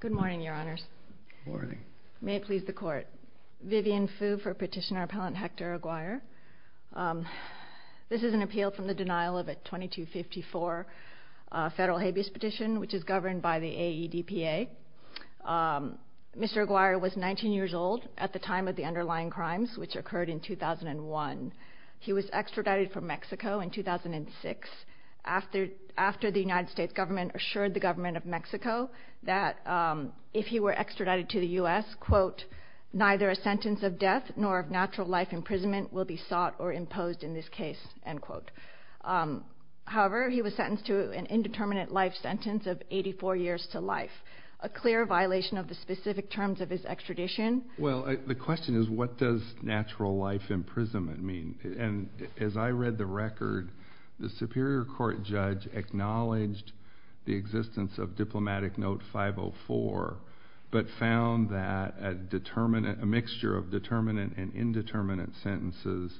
Good morning, Your Honors. May it please the Court. Vivian Fu for Petitioner Appellant Hector Aguirre. This is an appeal from the denial of a § 2254 Federal Habeas Petition, which is governed by the AEDPA. Mr. Aguirre was 19 years old at the time of the underlying crimes, which occurred in 2001. He was extradited from Mexico in 2006 after the United States government assured the government of Mexico that if he were extradited to the U.S., quote, neither a sentence of death nor of natural life imprisonment will be sought or imposed in this case, end quote. However, he was sentenced to an indeterminate life sentence of 84 years to life, a clear violation of the specific terms of his extradition. Well, the question is, what does natural life imprisonment mean? And as I read the record, the Superior Court judge acknowledged the existence of Diplomatic Note 504, but found that a mixture of determinate and indeterminate sentences,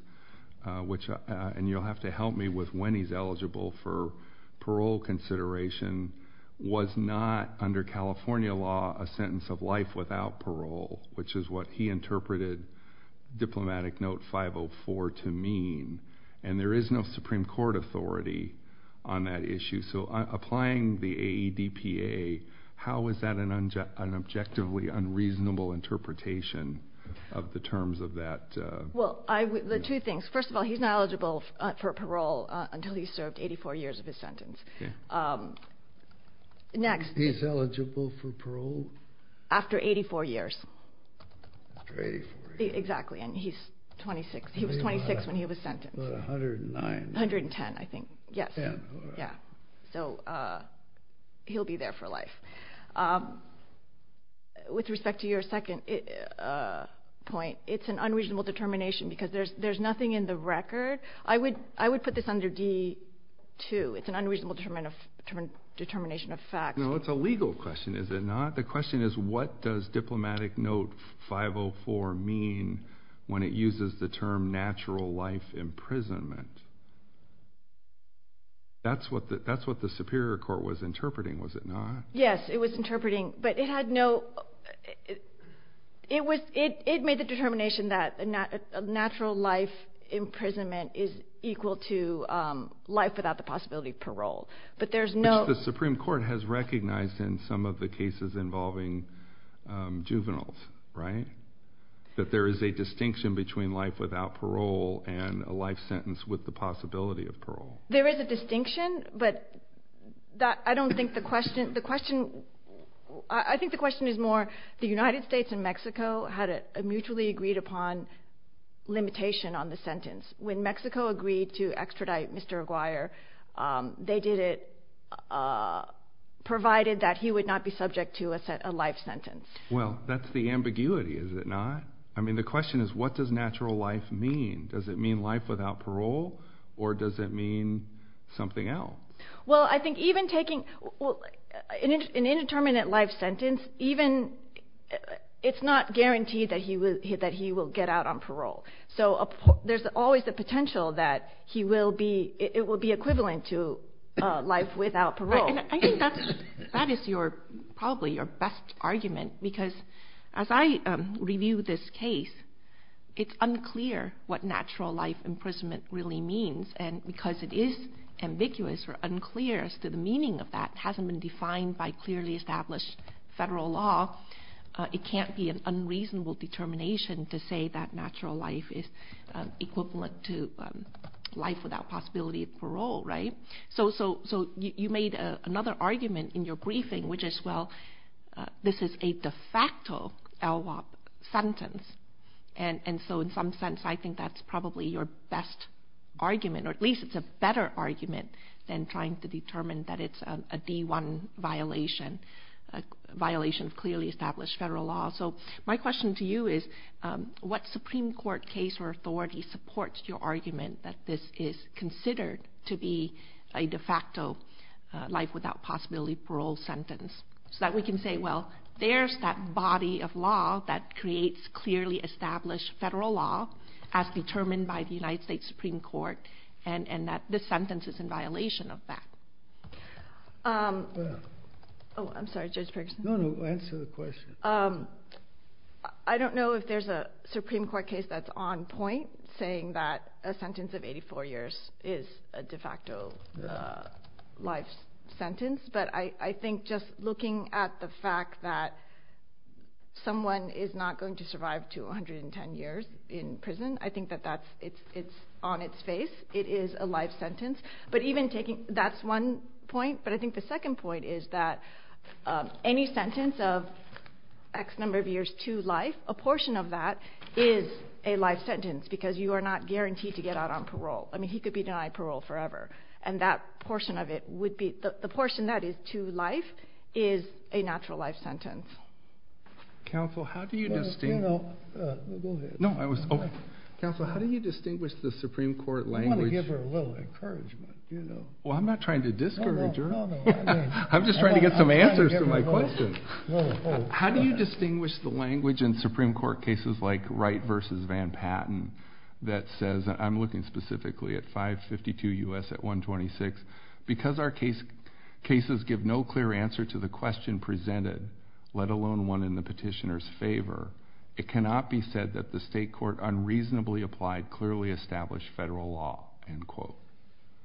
which, and you'll have to help me with when he's eligible for parole consideration, was not under California law a sentence of life without parole, which is what he interpreted Diplomatic Note 504 to mean. And there is no Supreme Court authority on that issue. So applying the AEDPA, how is that an objectively unreasonable interpretation of the terms of that? Well, I, the two things. First of all, he's not eligible for parole until he's served 84 years of his sentence. Next. He's eligible for parole? After 84 years. After 84 years. Exactly. And he's 26. He was 26 when he was sentenced. About 109. 110, I think. Yes. 10. Yeah. So he'll be there for life. With respect to your second point, it's an unreasonable determination because there's nothing in the record. I would put this under D-2. It's an unreasonable determination of facts. No, it's a legal question, is it not? The question is, what does Diplomatic Note 504 mean when it uses the term natural life imprisonment? That's what the Superior Court was interpreting, was it not? Yes, it was interpreting. But it had no, it was, it made the determination that a natural life imprisonment is equal to life without the possibility of parole. But there's no The Supreme Court has recognized in some of the cases involving juveniles, right? That there is a distinction between life without parole and a life sentence with the possibility of parole. There is a distinction, but I don't think the question, the question, I think the question is more the United States and Mexico had a mutually agreed upon limitation on the sentence. When Mexico agreed to extradite Mr. Aguirre, they did it provided that he would not be subject to a life sentence. Well, that's the ambiguity, is it not? I mean, the question is, what does natural life mean? Does it mean life without parole, or does it mean something else? Well, I think even taking an indeterminate life sentence, even, it's not guaranteed that he will get out on parole. So there's always the potential that he will be, it will be equivalent to life without parole. I think that is your, probably your best argument, because as I review this case, it's unclear what natural life imprisonment really means. And because it is ambiguous or unclear as to the meaning of that, it hasn't been defined by clearly established federal law, it can't be an unreasonable determination to say that natural life is equivalent to life without possibility of parole, right? So you made another argument in your briefing, which is, well, this is a de facto LWOP sentence. And so in some sense, I think that's probably your best argument, or at least it's a better argument than trying to determine that it's a D1 violation, a violation of clearly established federal law. So my question to you is, what Supreme Court case or authority supports your argument that this is considered to be a de facto life without possibility of parole sentence? So that we can say, well, there's that body of law that creates clearly established federal law as determined by the United States Supreme Court, and that this sentence is in violation of that. Oh, I'm sorry, Judge Ferguson. No, no, answer the question. I don't know if there's a Supreme Court case that's on point, saying that a sentence of 84 years is a de facto life sentence. But I think just looking at the fact that someone is not going to survive 210 years in prison, I think that that's, it's on its face, it is a life sentence. But even taking, that's one point. But I think the second point is that any sentence of X number of years to life, a portion of that is a life sentence because you are not guaranteed to get out on parole. I mean, he could be denied parole forever. And that portion of it would be, the portion that is to life is a natural life sentence. Counsel, how do you distinguish... No, go ahead. No, I was, okay. Counsel, how do you distinguish the Supreme Court language... I'm trying to give her a little encouragement, you know. Well, I'm not trying to discourage her. No, no. I'm just trying to get some answers to my question. How do you distinguish the language in Supreme Court cases like Wright v. Van Patten that says, I'm looking specifically at 552 U.S. at 126, because our cases give no clear answer to the question presented, let alone one in the petitioner's favor, it cannot be said that the state court unreasonably applied clearly established federal law, end quote.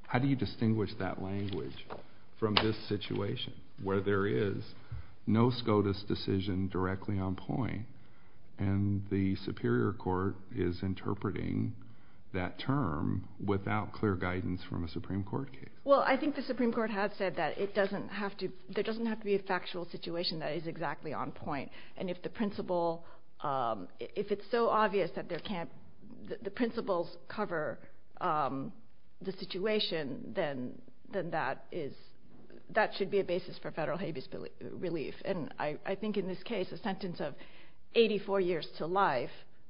How do you distinguish that language from this situation where there is no SCOTUS decision directly on point and the superior court is interpreting that term without clear guidance from a Supreme Court case? Well, I think the Supreme Court has said that it doesn't have to, there doesn't have to be a factual situation that is exactly on point. And if the principle, if it's so obvious that there can't, the principles cover the situation, then that is, that should be a basis for federal habeas relief. And I think in this case, a sentence of 84 years to life,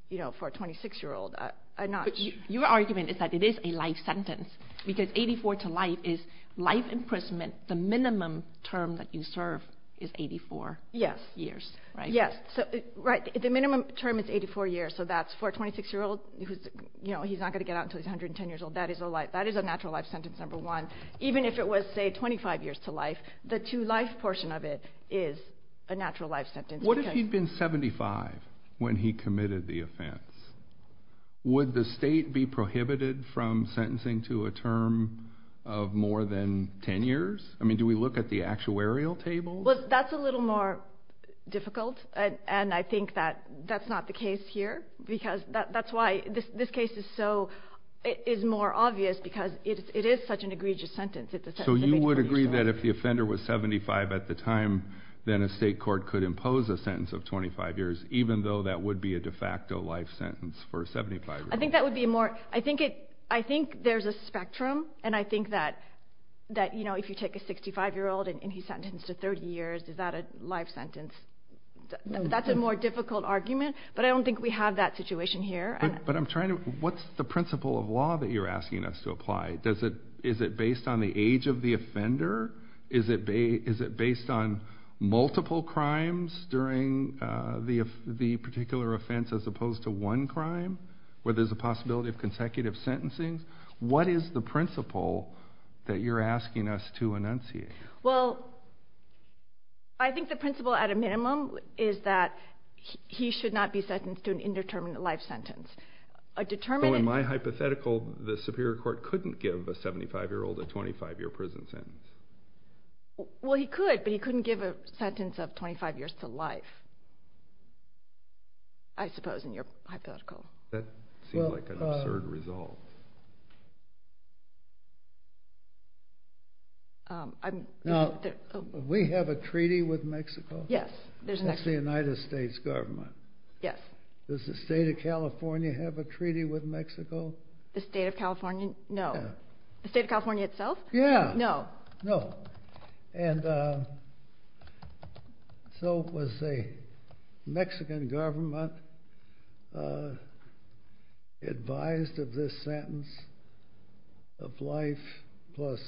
you know, for a 26-year-old, I'm not... Your argument is that it is a life sentence, because 84 to life is life imprisonment. The minimum term that you serve is 84 years, right? Yes. Right. The minimum term is 84 years, so that's for a 26-year-old who's, you know, he's not going to get out until he's 110 years old. That is a life, that is a natural life sentence, number one. Even if it was, say, 25 years to life, the to life portion of it is a natural life sentence. What if he'd been 75 when he committed the offense? Would the state be prohibited from sentencing to a term of more than 10 years? I mean, do we look at the actuarial table? That's a little more difficult, and I think that that's not the case here, because that's why this case is so, is more obvious, because it is such an egregious sentence. So you would agree that if the offender was 75 at the time, then a state court could impose a sentence of 25 years, even though that would be a de facto life sentence for a 75-year-old? I think that would be more, I think there's a spectrum, and I think that, you know, if you take a 65-year-old and he's sentenced to 30 years, is that a life sentence? That's a more difficult argument, but I don't think we have that situation here. But I'm trying to, what's the principle of law that you're asking us to apply? Is it based on the age of the offender? Is it based on multiple crimes during the particular offense as opposed to one crime, where there's a possibility of consecutive sentencing? What is the principle that you're asking us to enunciate? Well, I think the principle, at a minimum, is that he should not be sentenced to an indeterminate life sentence. A determinate... So in my hypothetical, the Superior Court couldn't give a 75-year-old a 25-year prison sentence? Well, he could, but he couldn't give a sentence of 25 years to life, I suppose, in your hypothetical. That seems like an absurd resolve. We have a treaty with Mexico? Yes, there's an exception. It's the United States government. Yes. Does the state of California have a treaty with Mexico? The state of California? No. The state of California itself? Yeah. No. No. And so was the Mexican government advised of this sentence of life plus,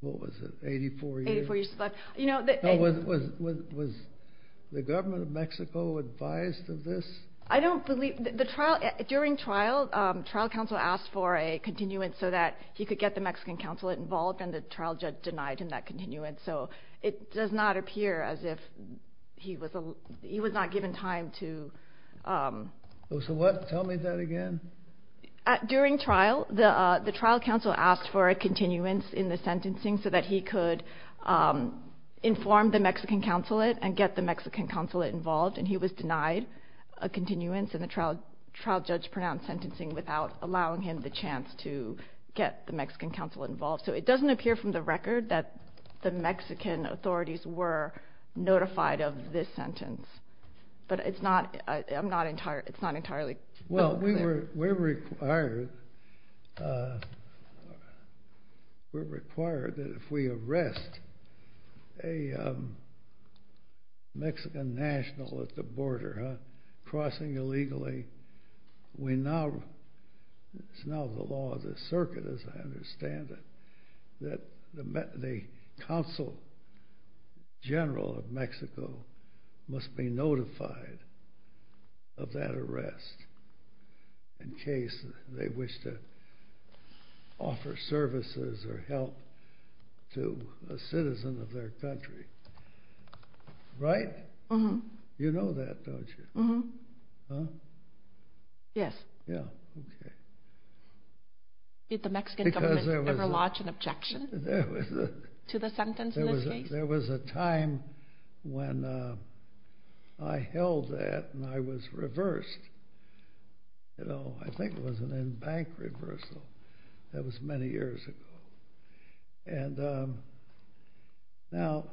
what was it, 84 years? 84 years to life. Was the government of Mexico advised of this? I don't believe... During trial, trial counsel asked for a continuance so that he could get the Mexican consulate involved, and the trial judge denied him that continuance, so it does not appear as if he was not given time to... So what? Tell me that again. During trial, the trial counsel asked for a continuance in the sentencing so that he could inform the Mexican consulate and get the Mexican consulate involved, and he was denied a continuance, and the trial judge pronounced sentencing without allowing him the chance to get the Mexican consulate involved, so it doesn't appear from the record that the Mexican authorities were notified of this sentence, but it's not entirely... Well, we're required that if we arrest a Mexican national at the border crossing illegally, we now... It's now the law of the circuit, as I understand it, that the consul general of Mexico must be notified of that arrest in case they wish to offer services or help to a citizen of their country, right? Mm-hmm. You know that, don't you? Mm-hmm. Huh? Yes. Yeah, okay. Did the Mexican government ever lodge an objection to the sentence in this case? There was a time when I held that, and I was reversed. I think it was an in-bank reversal. That was many years ago, and now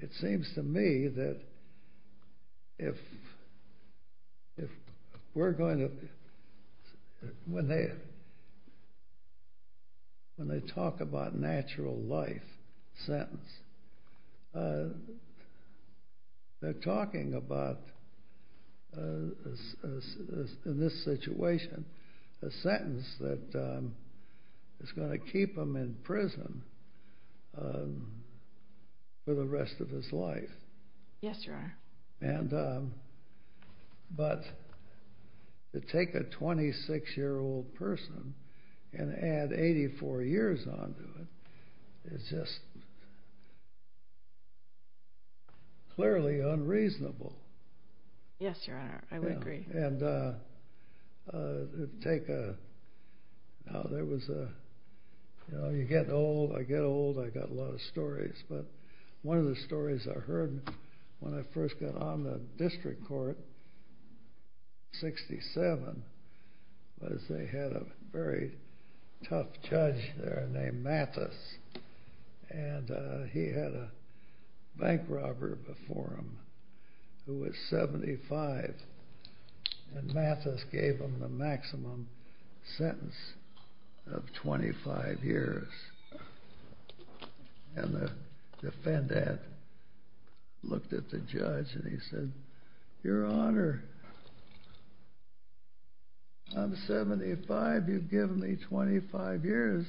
it seems to me that if we're going to... When they talk about natural life sentence, they're talking about, in this situation, a sentence that is going to keep him in prison for the rest of his life. Yes, Your Honor. But to take a 26-year-old person and add 84 years onto it is just clearly unreasonable. Yes, Your Honor. I would agree. And to take a... Now, there was a... You get old. I get old. I got a lot of stories, but one of the stories I heard when I first got on the district court in 67 was they had a very tough judge there named Mathis, and he had a bank robber before him who was 75, and the defendant looked at the judge and he said, Your Honor, I'm 75. You've given me 25 years.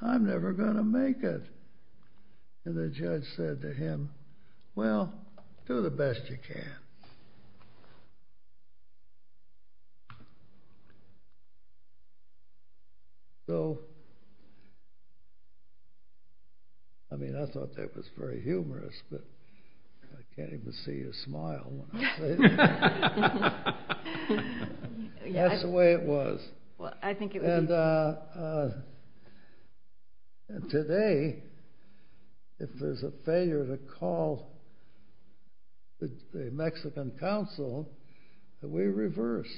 I'm never going to make it. And the judge said to him, Well, do the best you can. So, I mean, I thought that was very humorous, but I can't even see you smile when I say that. That's the way it was. Well, I think it would be... And today, if there's a failure to call the Mexican counsel, we reverse,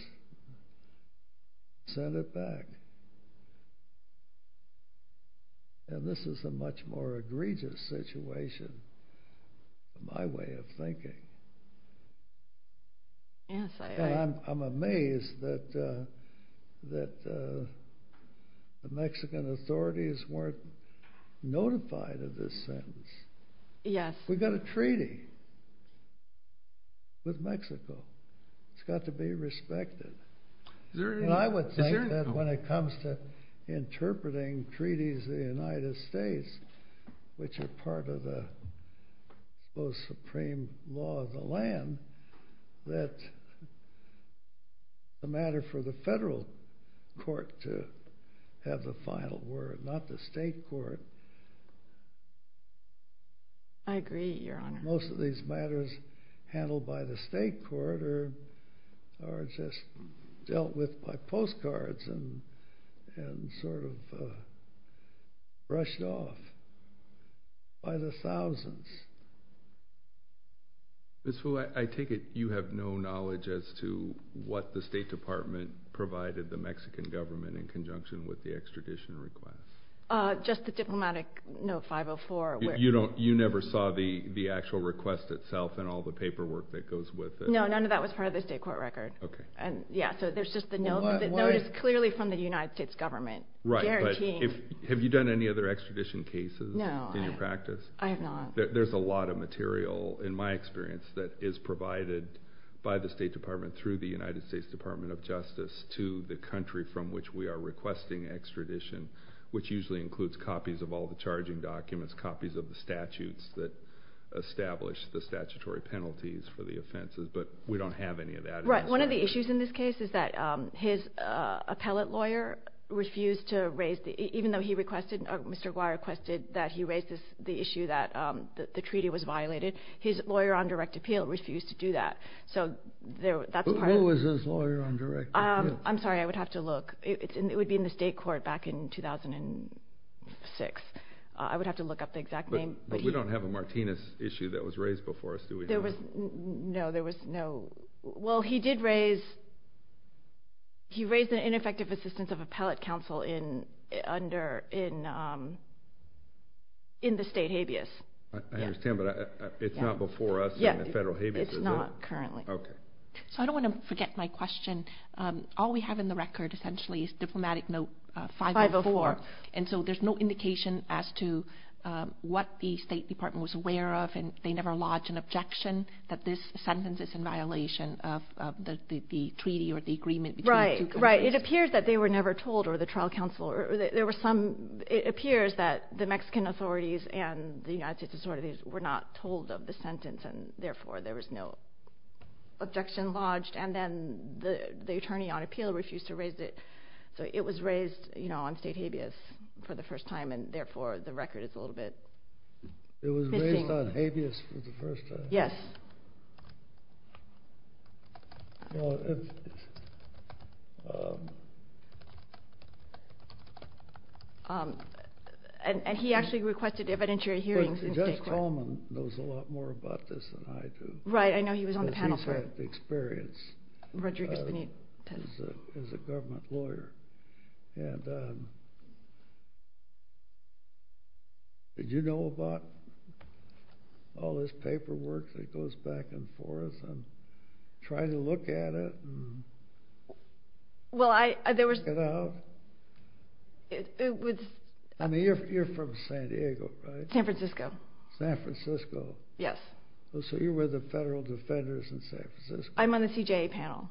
send it back. And this is a much more egregious situation, in my way of thinking. Yes, I... And I'm amazed that the Mexican authorities weren't notified of this sentence. Yes. We got a treaty with Mexico. It's got to be respected. Is there any... And I would think that when it comes to interpreting treaties of the United States, which are part of the most supreme law of the land, that the matter for the federal court to have the final word, not the state court... I agree, Your Honor. Most of these matters handled by the state court are just dealt with by postcards and sort of brushed off by the thousands. Ms. Fu, I take it you have no knowledge as to what the State Department provided the Mexican government in conjunction with the extradition request? Just the diplomatic note 504. You never saw the actual request itself and all the paperwork that goes with it? No, none of that was part of the state court record. Okay. Yeah, so there's just the note. What? The note is clearly from the United States government. Right. Guaranteeing. Have you done any other extradition cases in your practice? No, I have not. There's a lot of material, in my experience, that is provided by the State Department through the United States Department of Justice to the country from which we are requesting extradition, which usually includes copies of all the charging documents, copies of the statutes that establish the statutory penalties for the offenses, but we don't have any of that. Right. One of the issues in this case is that his appellate lawyer refused to raise the... Even though he requested... Mr. Guar requested that he raise the issue that the treaty was violated, his lawyer on direct appeal refused to do that. So that's part of... Who was his lawyer on direct appeal? I'm sorry. I would have to look. It would be in the state court back in 2006. I would have to look up the exact name. But we don't have a Martinez issue that was raised before us, do we? No, there was no... Well, he did raise the ineffective assistance of appellate counsel in the state habeas. I understand, but it's not before us in the federal habeas, is it? It's not currently. Okay. So I don't want to forget my question. All we have in the record, essentially, is diplomatic note 504. And so there's no indication as to what the State Department was aware of, and they never lodged an objection that this sentence is in violation of the treaty or the agreement between the two countries. Right. It appears that they were never told, or the trial counsel, or there were some... It appears that the Mexican authorities and the United States authorities were not told of the sentence, and therefore there was no objection lodged. And then the attorney on appeal refused to raise it. So it was raised on state habeas for the first time, and therefore the record is a little bit... It was raised on habeas for the first time? Yes. And he actually requested evidentiary hearings in state court. But Judge Coleman knows a lot more about this than I do. Right. I know he was on the panel for... He's had the experience as a government lawyer. And did you know about all this paperwork that goes back and forth, and try to look at it and... Well, I... Check it out. It was... I mean, you're from San Diego, right? San Francisco. San Francisco. Yes. So you were the federal defenders in San Francisco? I'm on the CJA panel.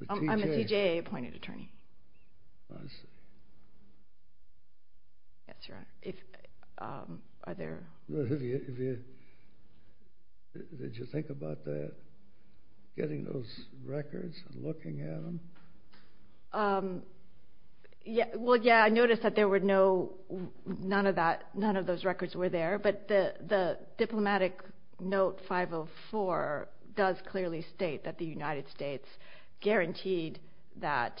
The CJA? I'm a CJA appointed attorney. I see. Yes, Your Honor. If... Are there... Have you... Did you think about getting those records and looking at them? Well, yeah, I noticed that there were no... None of those records were there. But the diplomatic note 504 does clearly state that the United States guaranteed that,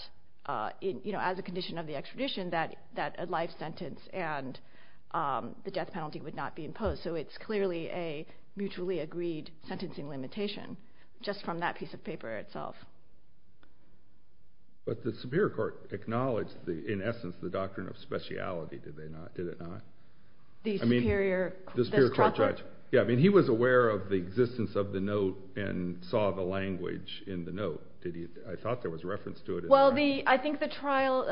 you know, as a condition of the extradition, that a life sentence and the death penalty would not be imposed. So it's clearly a mutually agreed sentencing limitation just from that piece of paper itself. But the superior court acknowledged, in essence, the doctrine of speciality, did it not? The superior... The superior court judge. Yeah, I mean, he was aware of the existence of the note and saw the language in the note. Did he... I thought there was reference to it. Well, the... I think the trial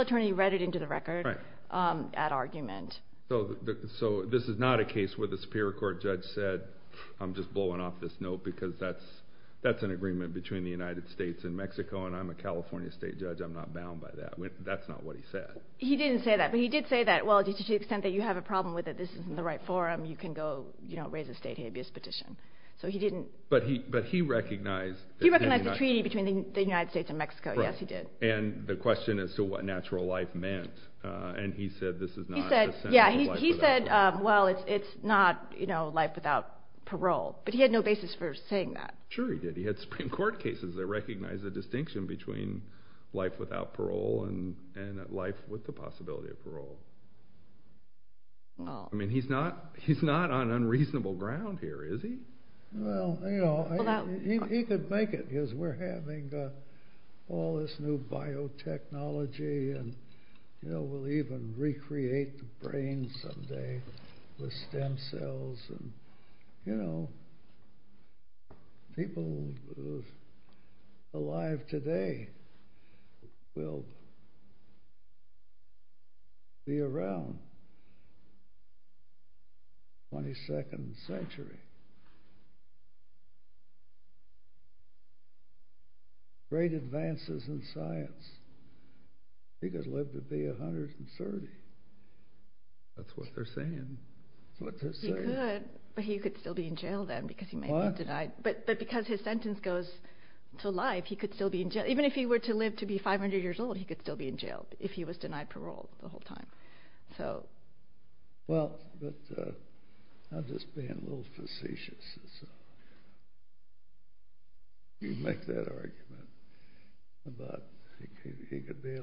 attorney read it into the record at argument. So this is not a case where the superior court judge said, I'm just blowing off this note because that's an agreement between the United States and Mexico, and I'm a California state judge. I'm not bound by that. That's not what he said. He didn't say that. But he did say that, well, to the extent that you have a problem with it, this isn't the right forum, you can go raise a state habeas petition. So he didn't... But he recognized... He recognized the treaty between the United States and Mexico. Yes, he did. And the question as to what natural life meant, and he said this is not a sentence of life without parole. Yeah, he said, well, it's not life without parole. But he had no basis for saying that. Sure he did. He had Supreme Court cases that recognized the distinction between life without parole and life with the possibility of parole. I mean, he's not on unreasonable ground here, is he? Well, you know, he could make it because we're having all this new biotechnology, and we'll even recreate the brain someday with stem cells. And, you know, people alive today will be around 22nd century. Great advances in science. He could live to be 130. That's what they're saying. He could, but he could still be in jail then because he may be denied. What? But because his sentence goes to life, he could still be in jail. Even if he were to live to be 500 years old, he could still be in jail if he was denied parole the whole time. Well, I'm just being a little facetious. You make that argument about he could be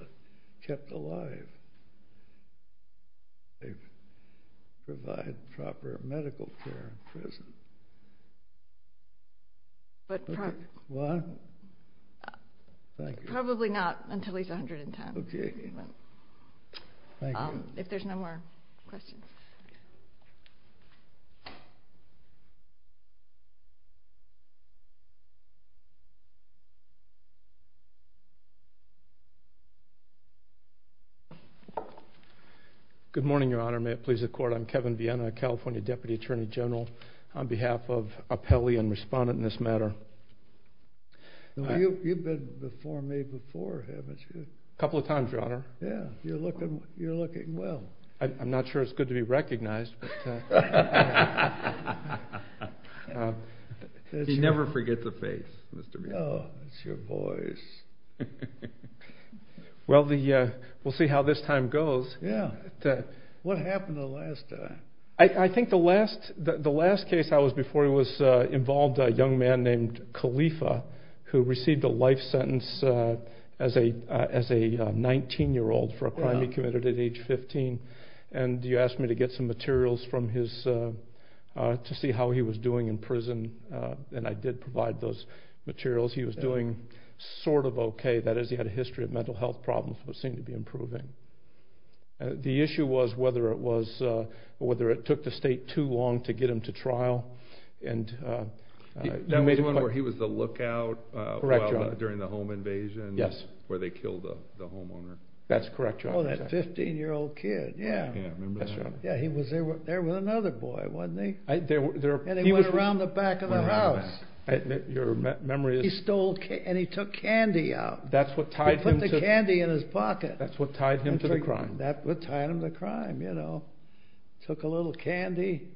kept alive. They provide proper medical care in prison. But probably not until he's 110. Okay. If there's no more questions. Okay. Good morning, Your Honor. May it please the Court. I'm Kevin Vienna, California Deputy Attorney General, on behalf of Apelli and respondent in this matter. You've been before me before, haven't you? A couple of times, Your Honor. Yeah. You're looking well. I'm not sure it's good to be recognized. He never forgets a face, Mr. Vienna. No, it's your voice. Well, we'll see how this time goes. Yeah. What happened the last time? And you asked me to get some materials to see how he was doing in prison, and I did provide those materials. He was doing sort of okay. That is, he had a history of mental health problems that seemed to be improving. The issue was whether it took the State too long to get him to trial. That was one where he was the lookout during the home invasion? Yes. That's correct, Your Honor. Oh, that 15-year-old kid. Yeah. Yeah, I remember that. That's right. Yeah, he was there with another boy, wasn't he? And he went around the back of the house. Your memory is? He stole candy, and he took candy out. That's what tied him to the crime. He put the candy in his pocket. That's what tied him to the crime, you know. Took a little candy,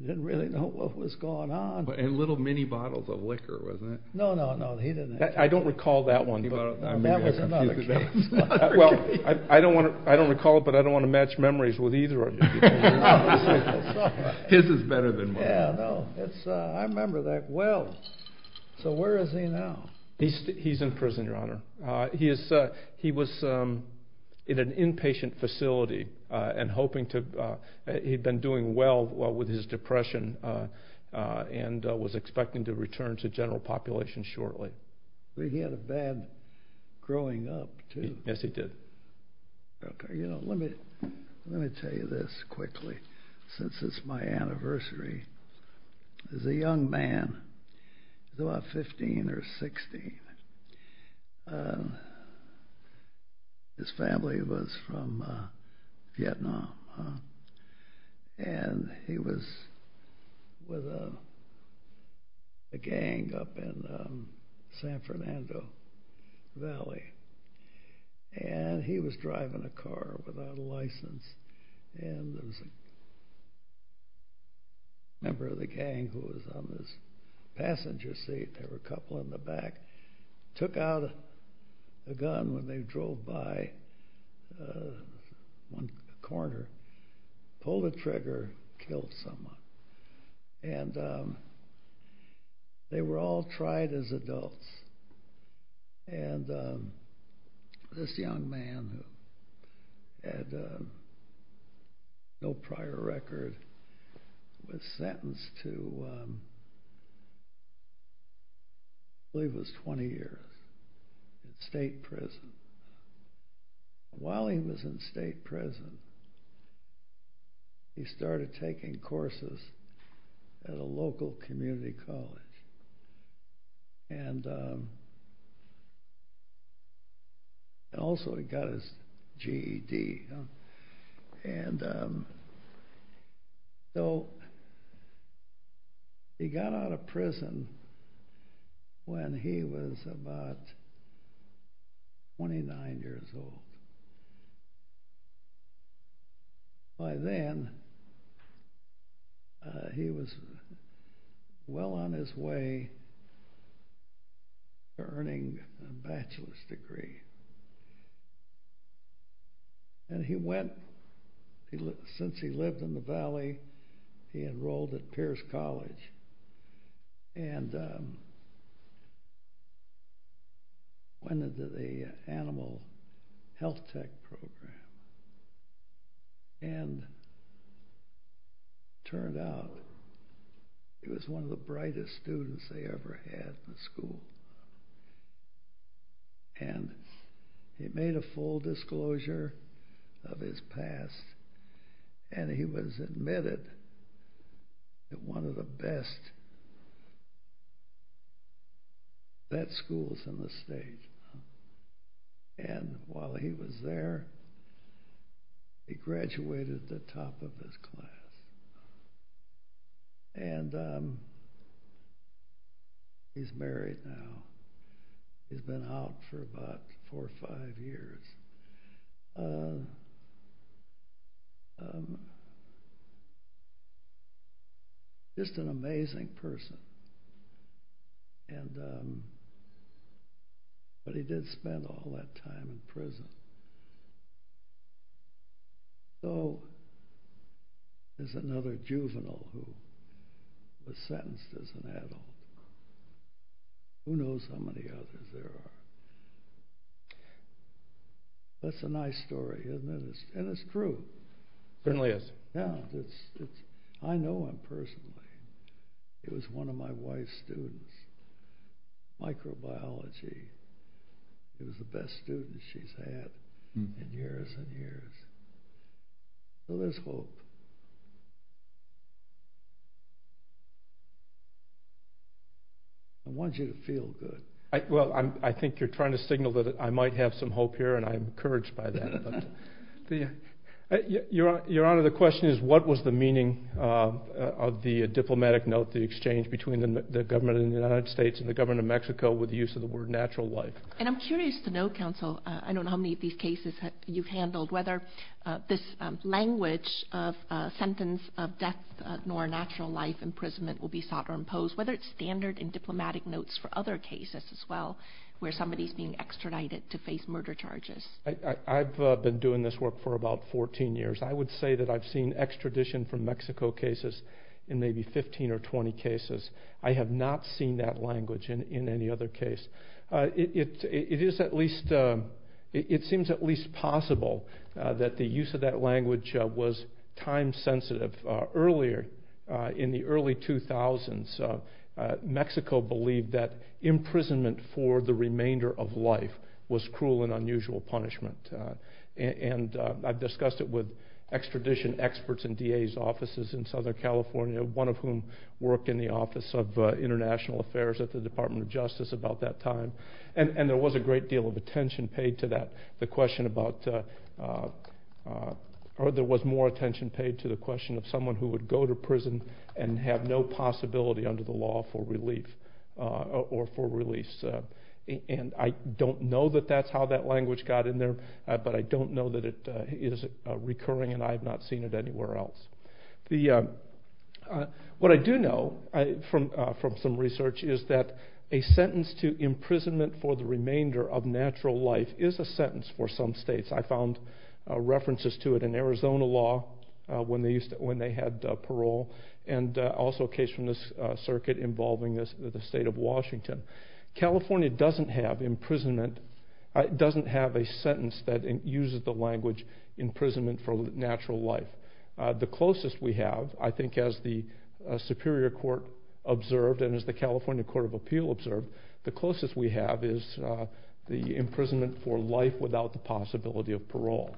didn't really know what was going on. And little mini bottles of liquor, wasn't it? No, no, no, he didn't have any. I don't recall that one. That was another case. Well, I don't recall it, but I don't want to match memories with either of you. His is better than mine. Yeah, no, I remember that well. So where is he now? He's in prison, Your Honor. He was in an inpatient facility, and he'd been doing well with his depression and was expecting to return to general population shortly. He had a bad growing up, too. Yes, he did. You know, let me tell you this quickly, since it's my anniversary. There's a young man, he's about 15 or 16. His family was from Vietnam. And he was with a gang up in San Fernando Valley, and he was driving a car without a license. And there was a member of the gang who was on this passenger seat. There were a couple in the back. Took out a gun when they drove by one corner, pulled a trigger, killed someone. And they were all tried as adults. And this young man, who had no prior record, was sentenced to, I believe it was 20 years in state prison. While he was in state prison, he started taking courses at a local community college. And also, he got his GED. And so he got out of prison when he was about 29 years old. By then, he was well on his way to earning a bachelor's degree. And he went, since he lived in the valley, he enrolled at Pierce College. And went into the animal health tech program. And it turned out, he was one of the brightest students they ever had in school. And he made a full disclosure of his past. And he was admitted at one of the best vet schools in the state. And while he was there, he graduated the top of his class. And he's married now. He's been out for about four or five years. Just an amazing person. But he did spend all that time in prison. So there's another juvenile who was sentenced as an adult. Who knows how many others there are. That's a nice story, isn't it? And it's true. It certainly is. Yeah. I know him personally. He was one of my wife's students. Microbiology. He was the best student she's had in years and years. So there's hope. I want you to feel good. Well, I think you're trying to signal that I might have some hope here. And I'm encouraged by that. Your Honor, the question is, what was the meaning of the diplomatic note, the exchange between the government of the United States and the government of Mexico with the use of the word natural life? And I'm curious to know, Counsel, I don't know how many of these cases you've handled, whether this language of sentence of death nor natural life imprisonment will be sought or imposed, whether it's standard and diplomatic notes for other cases as well, where somebody's being extradited to face murder charges. I've been doing this work for about 14 years. I would say that I've seen extradition from Mexico cases in maybe 15 or 20 cases. I have not seen that language in any other case. It seems at least possible that the use of that language was time sensitive. Earlier, in the early 2000s, Mexico believed that imprisonment for the remainder of life was cruel and unusual punishment. And I've discussed it with extradition experts and DA's offices in Southern California, one of whom worked in the Office of International Affairs at the Department of Justice about that time. And there was a great deal of attention paid to that. The question about, or there was more attention paid to the question of someone who would go to prison and have no possibility under the law for relief or for release. And I don't know that that's how that language got in there, but I don't know that it is recurring and I have not seen it anywhere else. What I do know from some research is that a sentence to imprisonment for the remainder of natural life is a sentence for some states. I found references to it in Arizona law when they had parole and also a case from this circuit involving the state of Washington. California doesn't have a sentence that uses the language imprisonment for natural life. The closest we have, I think as the Superior Court observed and as the California Court of Appeal observed, the closest we have is the imprisonment for life without the possibility of parole.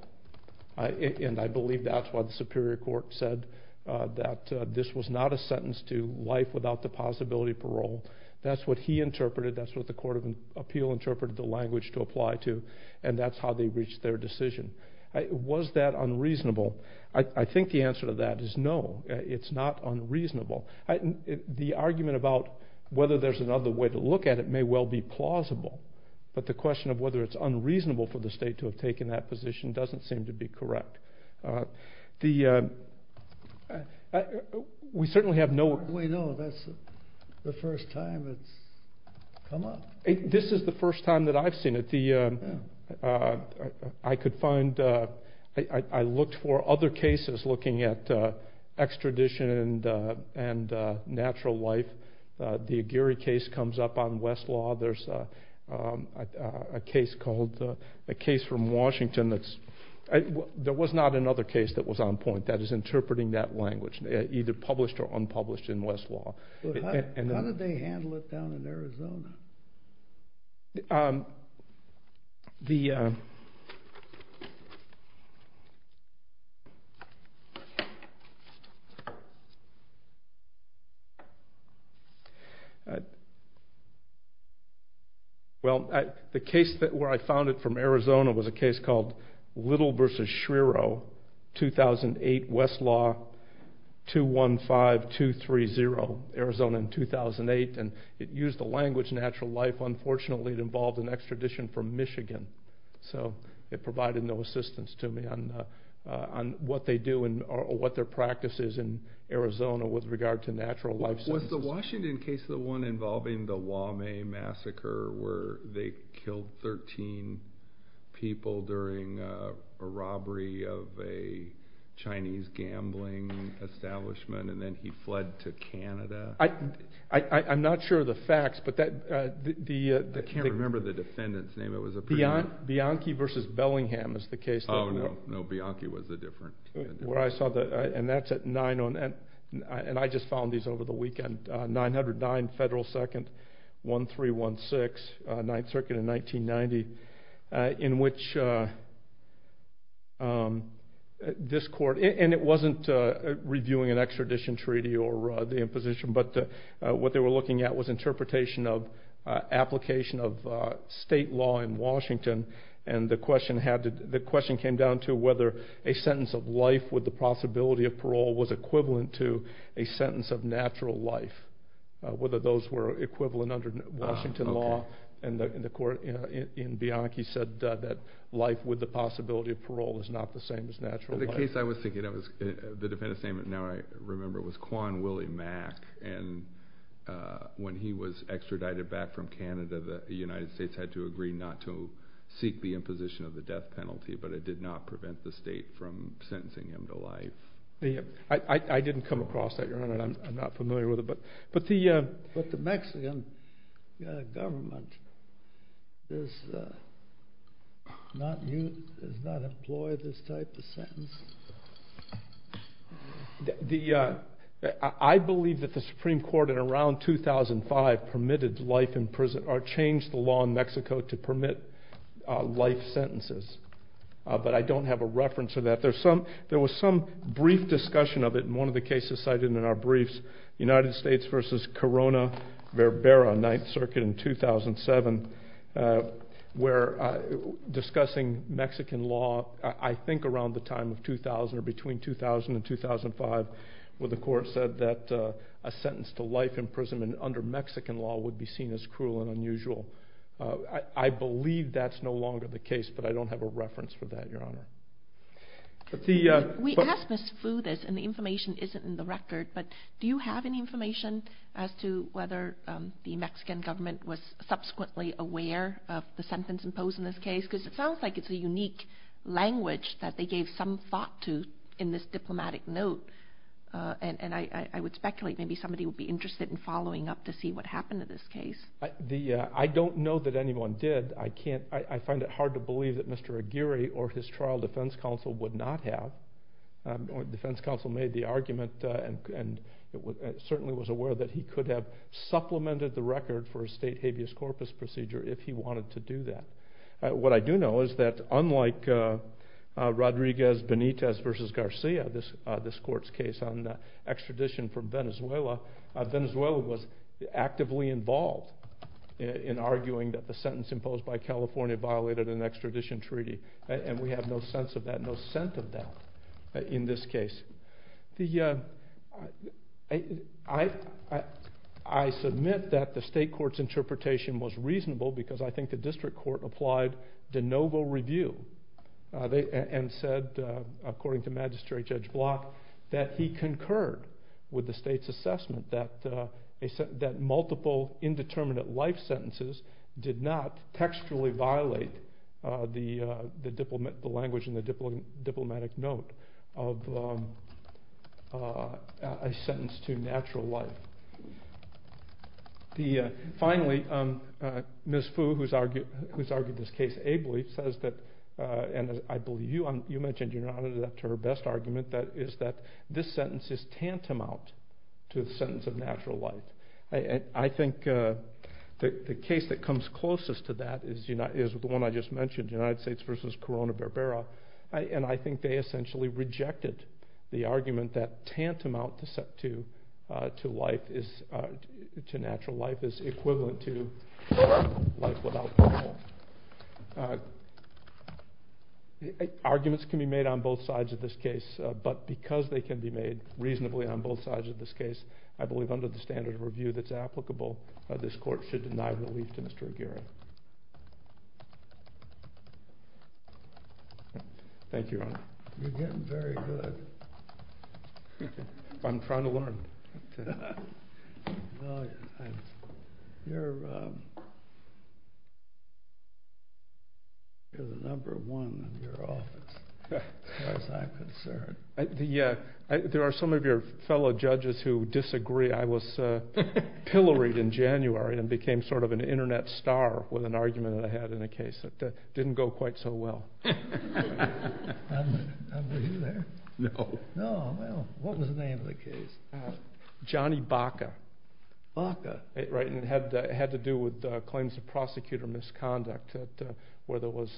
And I believe that's why the Superior Court said that this was not a sentence to life without the possibility of parole. That's what he interpreted, that's what the Court of Appeal interpreted the language to apply to, and that's how they reached their decision. Was that unreasonable? I think the answer to that is no, it's not unreasonable. The argument about whether there's another way to look at it may well be plausible, but the question of whether it's unreasonable for the state to have taken that position doesn't seem to be correct. We certainly have no... We know, that's the first time it's come up. This is the first time that I've seen it. I looked for other cases looking at extradition and natural life. The Aguirre case comes up on Westlaw. There's a case from Washington that's... There was not another case that was on point that is interpreting that language, either published or unpublished in Westlaw. How did they handle it down in Arizona? Well, the case where I found it from Arizona was a case called Little v. Schrierow, 2008, Westlaw, 215-230, Arizona in 2008. It used the language natural life. Unfortunately, it involved an extradition from Michigan, so it provided no assistance to me on what they do or what their practice is in Arizona with regard to natural life. Was the Washington case the one involving the Waumea Massacre where they killed 13 people during a robbery of a Chinese gambling establishment, and then he fled to Canada? I'm not sure of the facts, but the... I can't remember the defendant's name. Bianchi v. Bellingham is the case. Oh, no. No, Bianchi was a different defendant. And that's at 9 on... And I just found these over the weekend. 909 Federal 2nd, 1316, 9th Circuit in 1990, in which this court... And it wasn't reviewing an extradition treaty or the imposition, but what they were looking at was interpretation of application of state law in Washington, and the question came down to whether a sentence of life with the possibility of parole was equivalent to a sentence of natural life, whether those were equivalent under Washington law. And the court in Bianchi said that life with the possibility of parole is not the same as natural life. The case I was thinking of, the defendant's name now I remember, was Quan Willie Mack, and when he was extradited back from Canada, the United States had to agree not to seek the imposition of the death penalty, but it did not prevent the state from sentencing him to life. I didn't come across that, Your Honor, and I'm not familiar with it, but the... But the Mexican government does not employ this type of sentence. I believe that the Supreme Court in around 2005 permitted life in prison, or changed the law in Mexico to permit life sentences, but I don't have a reference to that. There was some brief discussion of it in one of the cases cited in our briefs, United States v. Corona-Verbera, 9th Circuit in 2007, where discussing Mexican law, I think around the time of 2000 or between 2000 and 2005, where the court said that a sentence to life in prison under Mexican law would be seen as cruel and unusual. I believe that's no longer the case, but I don't have a reference for that, Your Honor. We asked Ms. Fu this, and the information isn't in the record, but do you have any information as to whether the Mexican government was subsequently aware of the sentence imposed in this case? Because it sounds like it's a unique language that they gave some thought to in this diplomatic note, and I would speculate maybe somebody would be interested in following up to see what happened in this case. I don't know that anyone did. I find it hard to believe that Mr. Aguirre or his trial defense counsel would not have. Defense counsel made the argument and certainly was aware that he could have supplemented the record for a state habeas corpus procedure if he wanted to do that. What I do know is that unlike Rodriguez-Benitez v. Garcia, this court's case on extradition from Venezuela, Venezuela was actively involved in arguing that the sentence imposed by California violated an extradition treaty, and we have no sense of that, no scent of that in this case. I submit that the state court's interpretation was reasonable because I think the district court applied de novo review and said, according to Magistrate Judge Block, that he concurred with the state's assessment that multiple indeterminate life sentences did not textually violate the language in the diplomatic note of a sentence to natural life. Finally, Ms. Fu, who's argued this case ably, says that, and I believe you mentioned you're not adept to her best argument, that this sentence is tantamount to the sentence of natural life. I think the case that comes closest to that is the one I just mentioned, United States v. Corona-Barbera, and I think they essentially rejected the argument that tantamount to natural life is equivalent to life without parole. Arguments can be made on both sides of this case, but because they can be made reasonably on both sides of this case, I believe under the standard of review that's applicable, this court should deny relief to Mr. Aguirre. Thank you, Your Honor. You're getting very good. I'm trying to learn. You're the number one in your office, as far as I'm concerned. There are some of your fellow judges who disagree. I was pilloried in January and became sort of an Internet star with an argument that I had in a case that didn't go quite so well. Not with you there. No. No, well, what was the name of the case? Johnny Baca. Baca. It had to do with claims of prosecutor misconduct where there was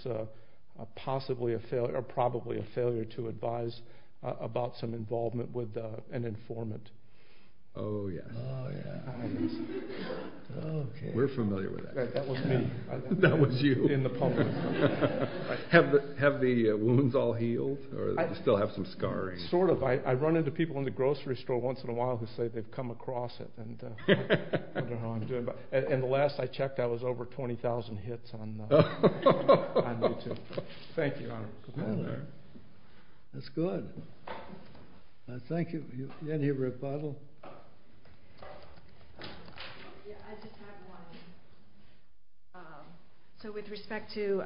possibly or probably a failure to advise about some involvement with an informant. Oh, yes. We're familiar with that. That was me. That was you. In the public. Have the wounds all healed or do you still have some scarring? Sort of. I run into people in the grocery store once in a while who say they've come across it. And the last I checked, I was over 20,000 hits on YouTube. Thank you, Your Honor. That's good. Thank you. Any rebuttal? I just have one. So with respect to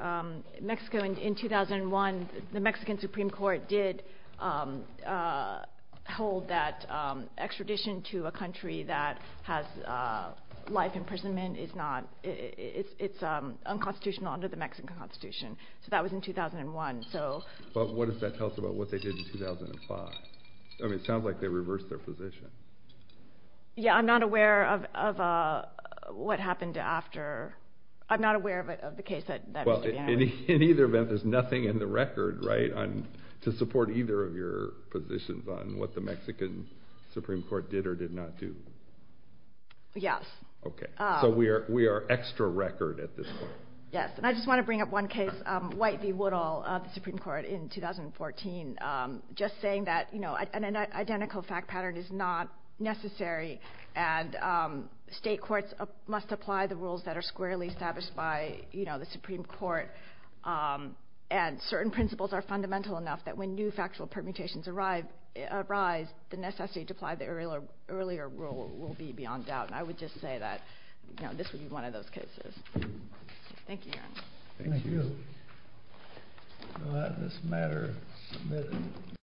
Mexico in 2001, the Mexican Supreme Court did hold that extradition to a country that has life imprisonment is not unconstitutional under the Mexican Constitution. So that was in 2001. But what does that tell us about what they did in 2005? I mean, it sounds like they reversed their position. Yeah, I'm not aware of what happened after. I'm not aware of the case that was to be handled. In either event, there's nothing in the record, right, to support either of your positions on what the Mexican Supreme Court did or did not do. Yes. Okay. So we are extra record at this point. Yes. And I just want to bring up one case, White v. Woodall of the Supreme Court in 2014, just saying that an identical fact pattern is not necessary. And state courts must apply the rules that are squarely established by the Supreme Court. And certain principles are fundamental enough that when new factual permutations arise, the necessity to apply the earlier rule will be beyond doubt. And I would just say that this would be one of those cases. Thank you, Your Honor. Thank you. So that is the matter submitted.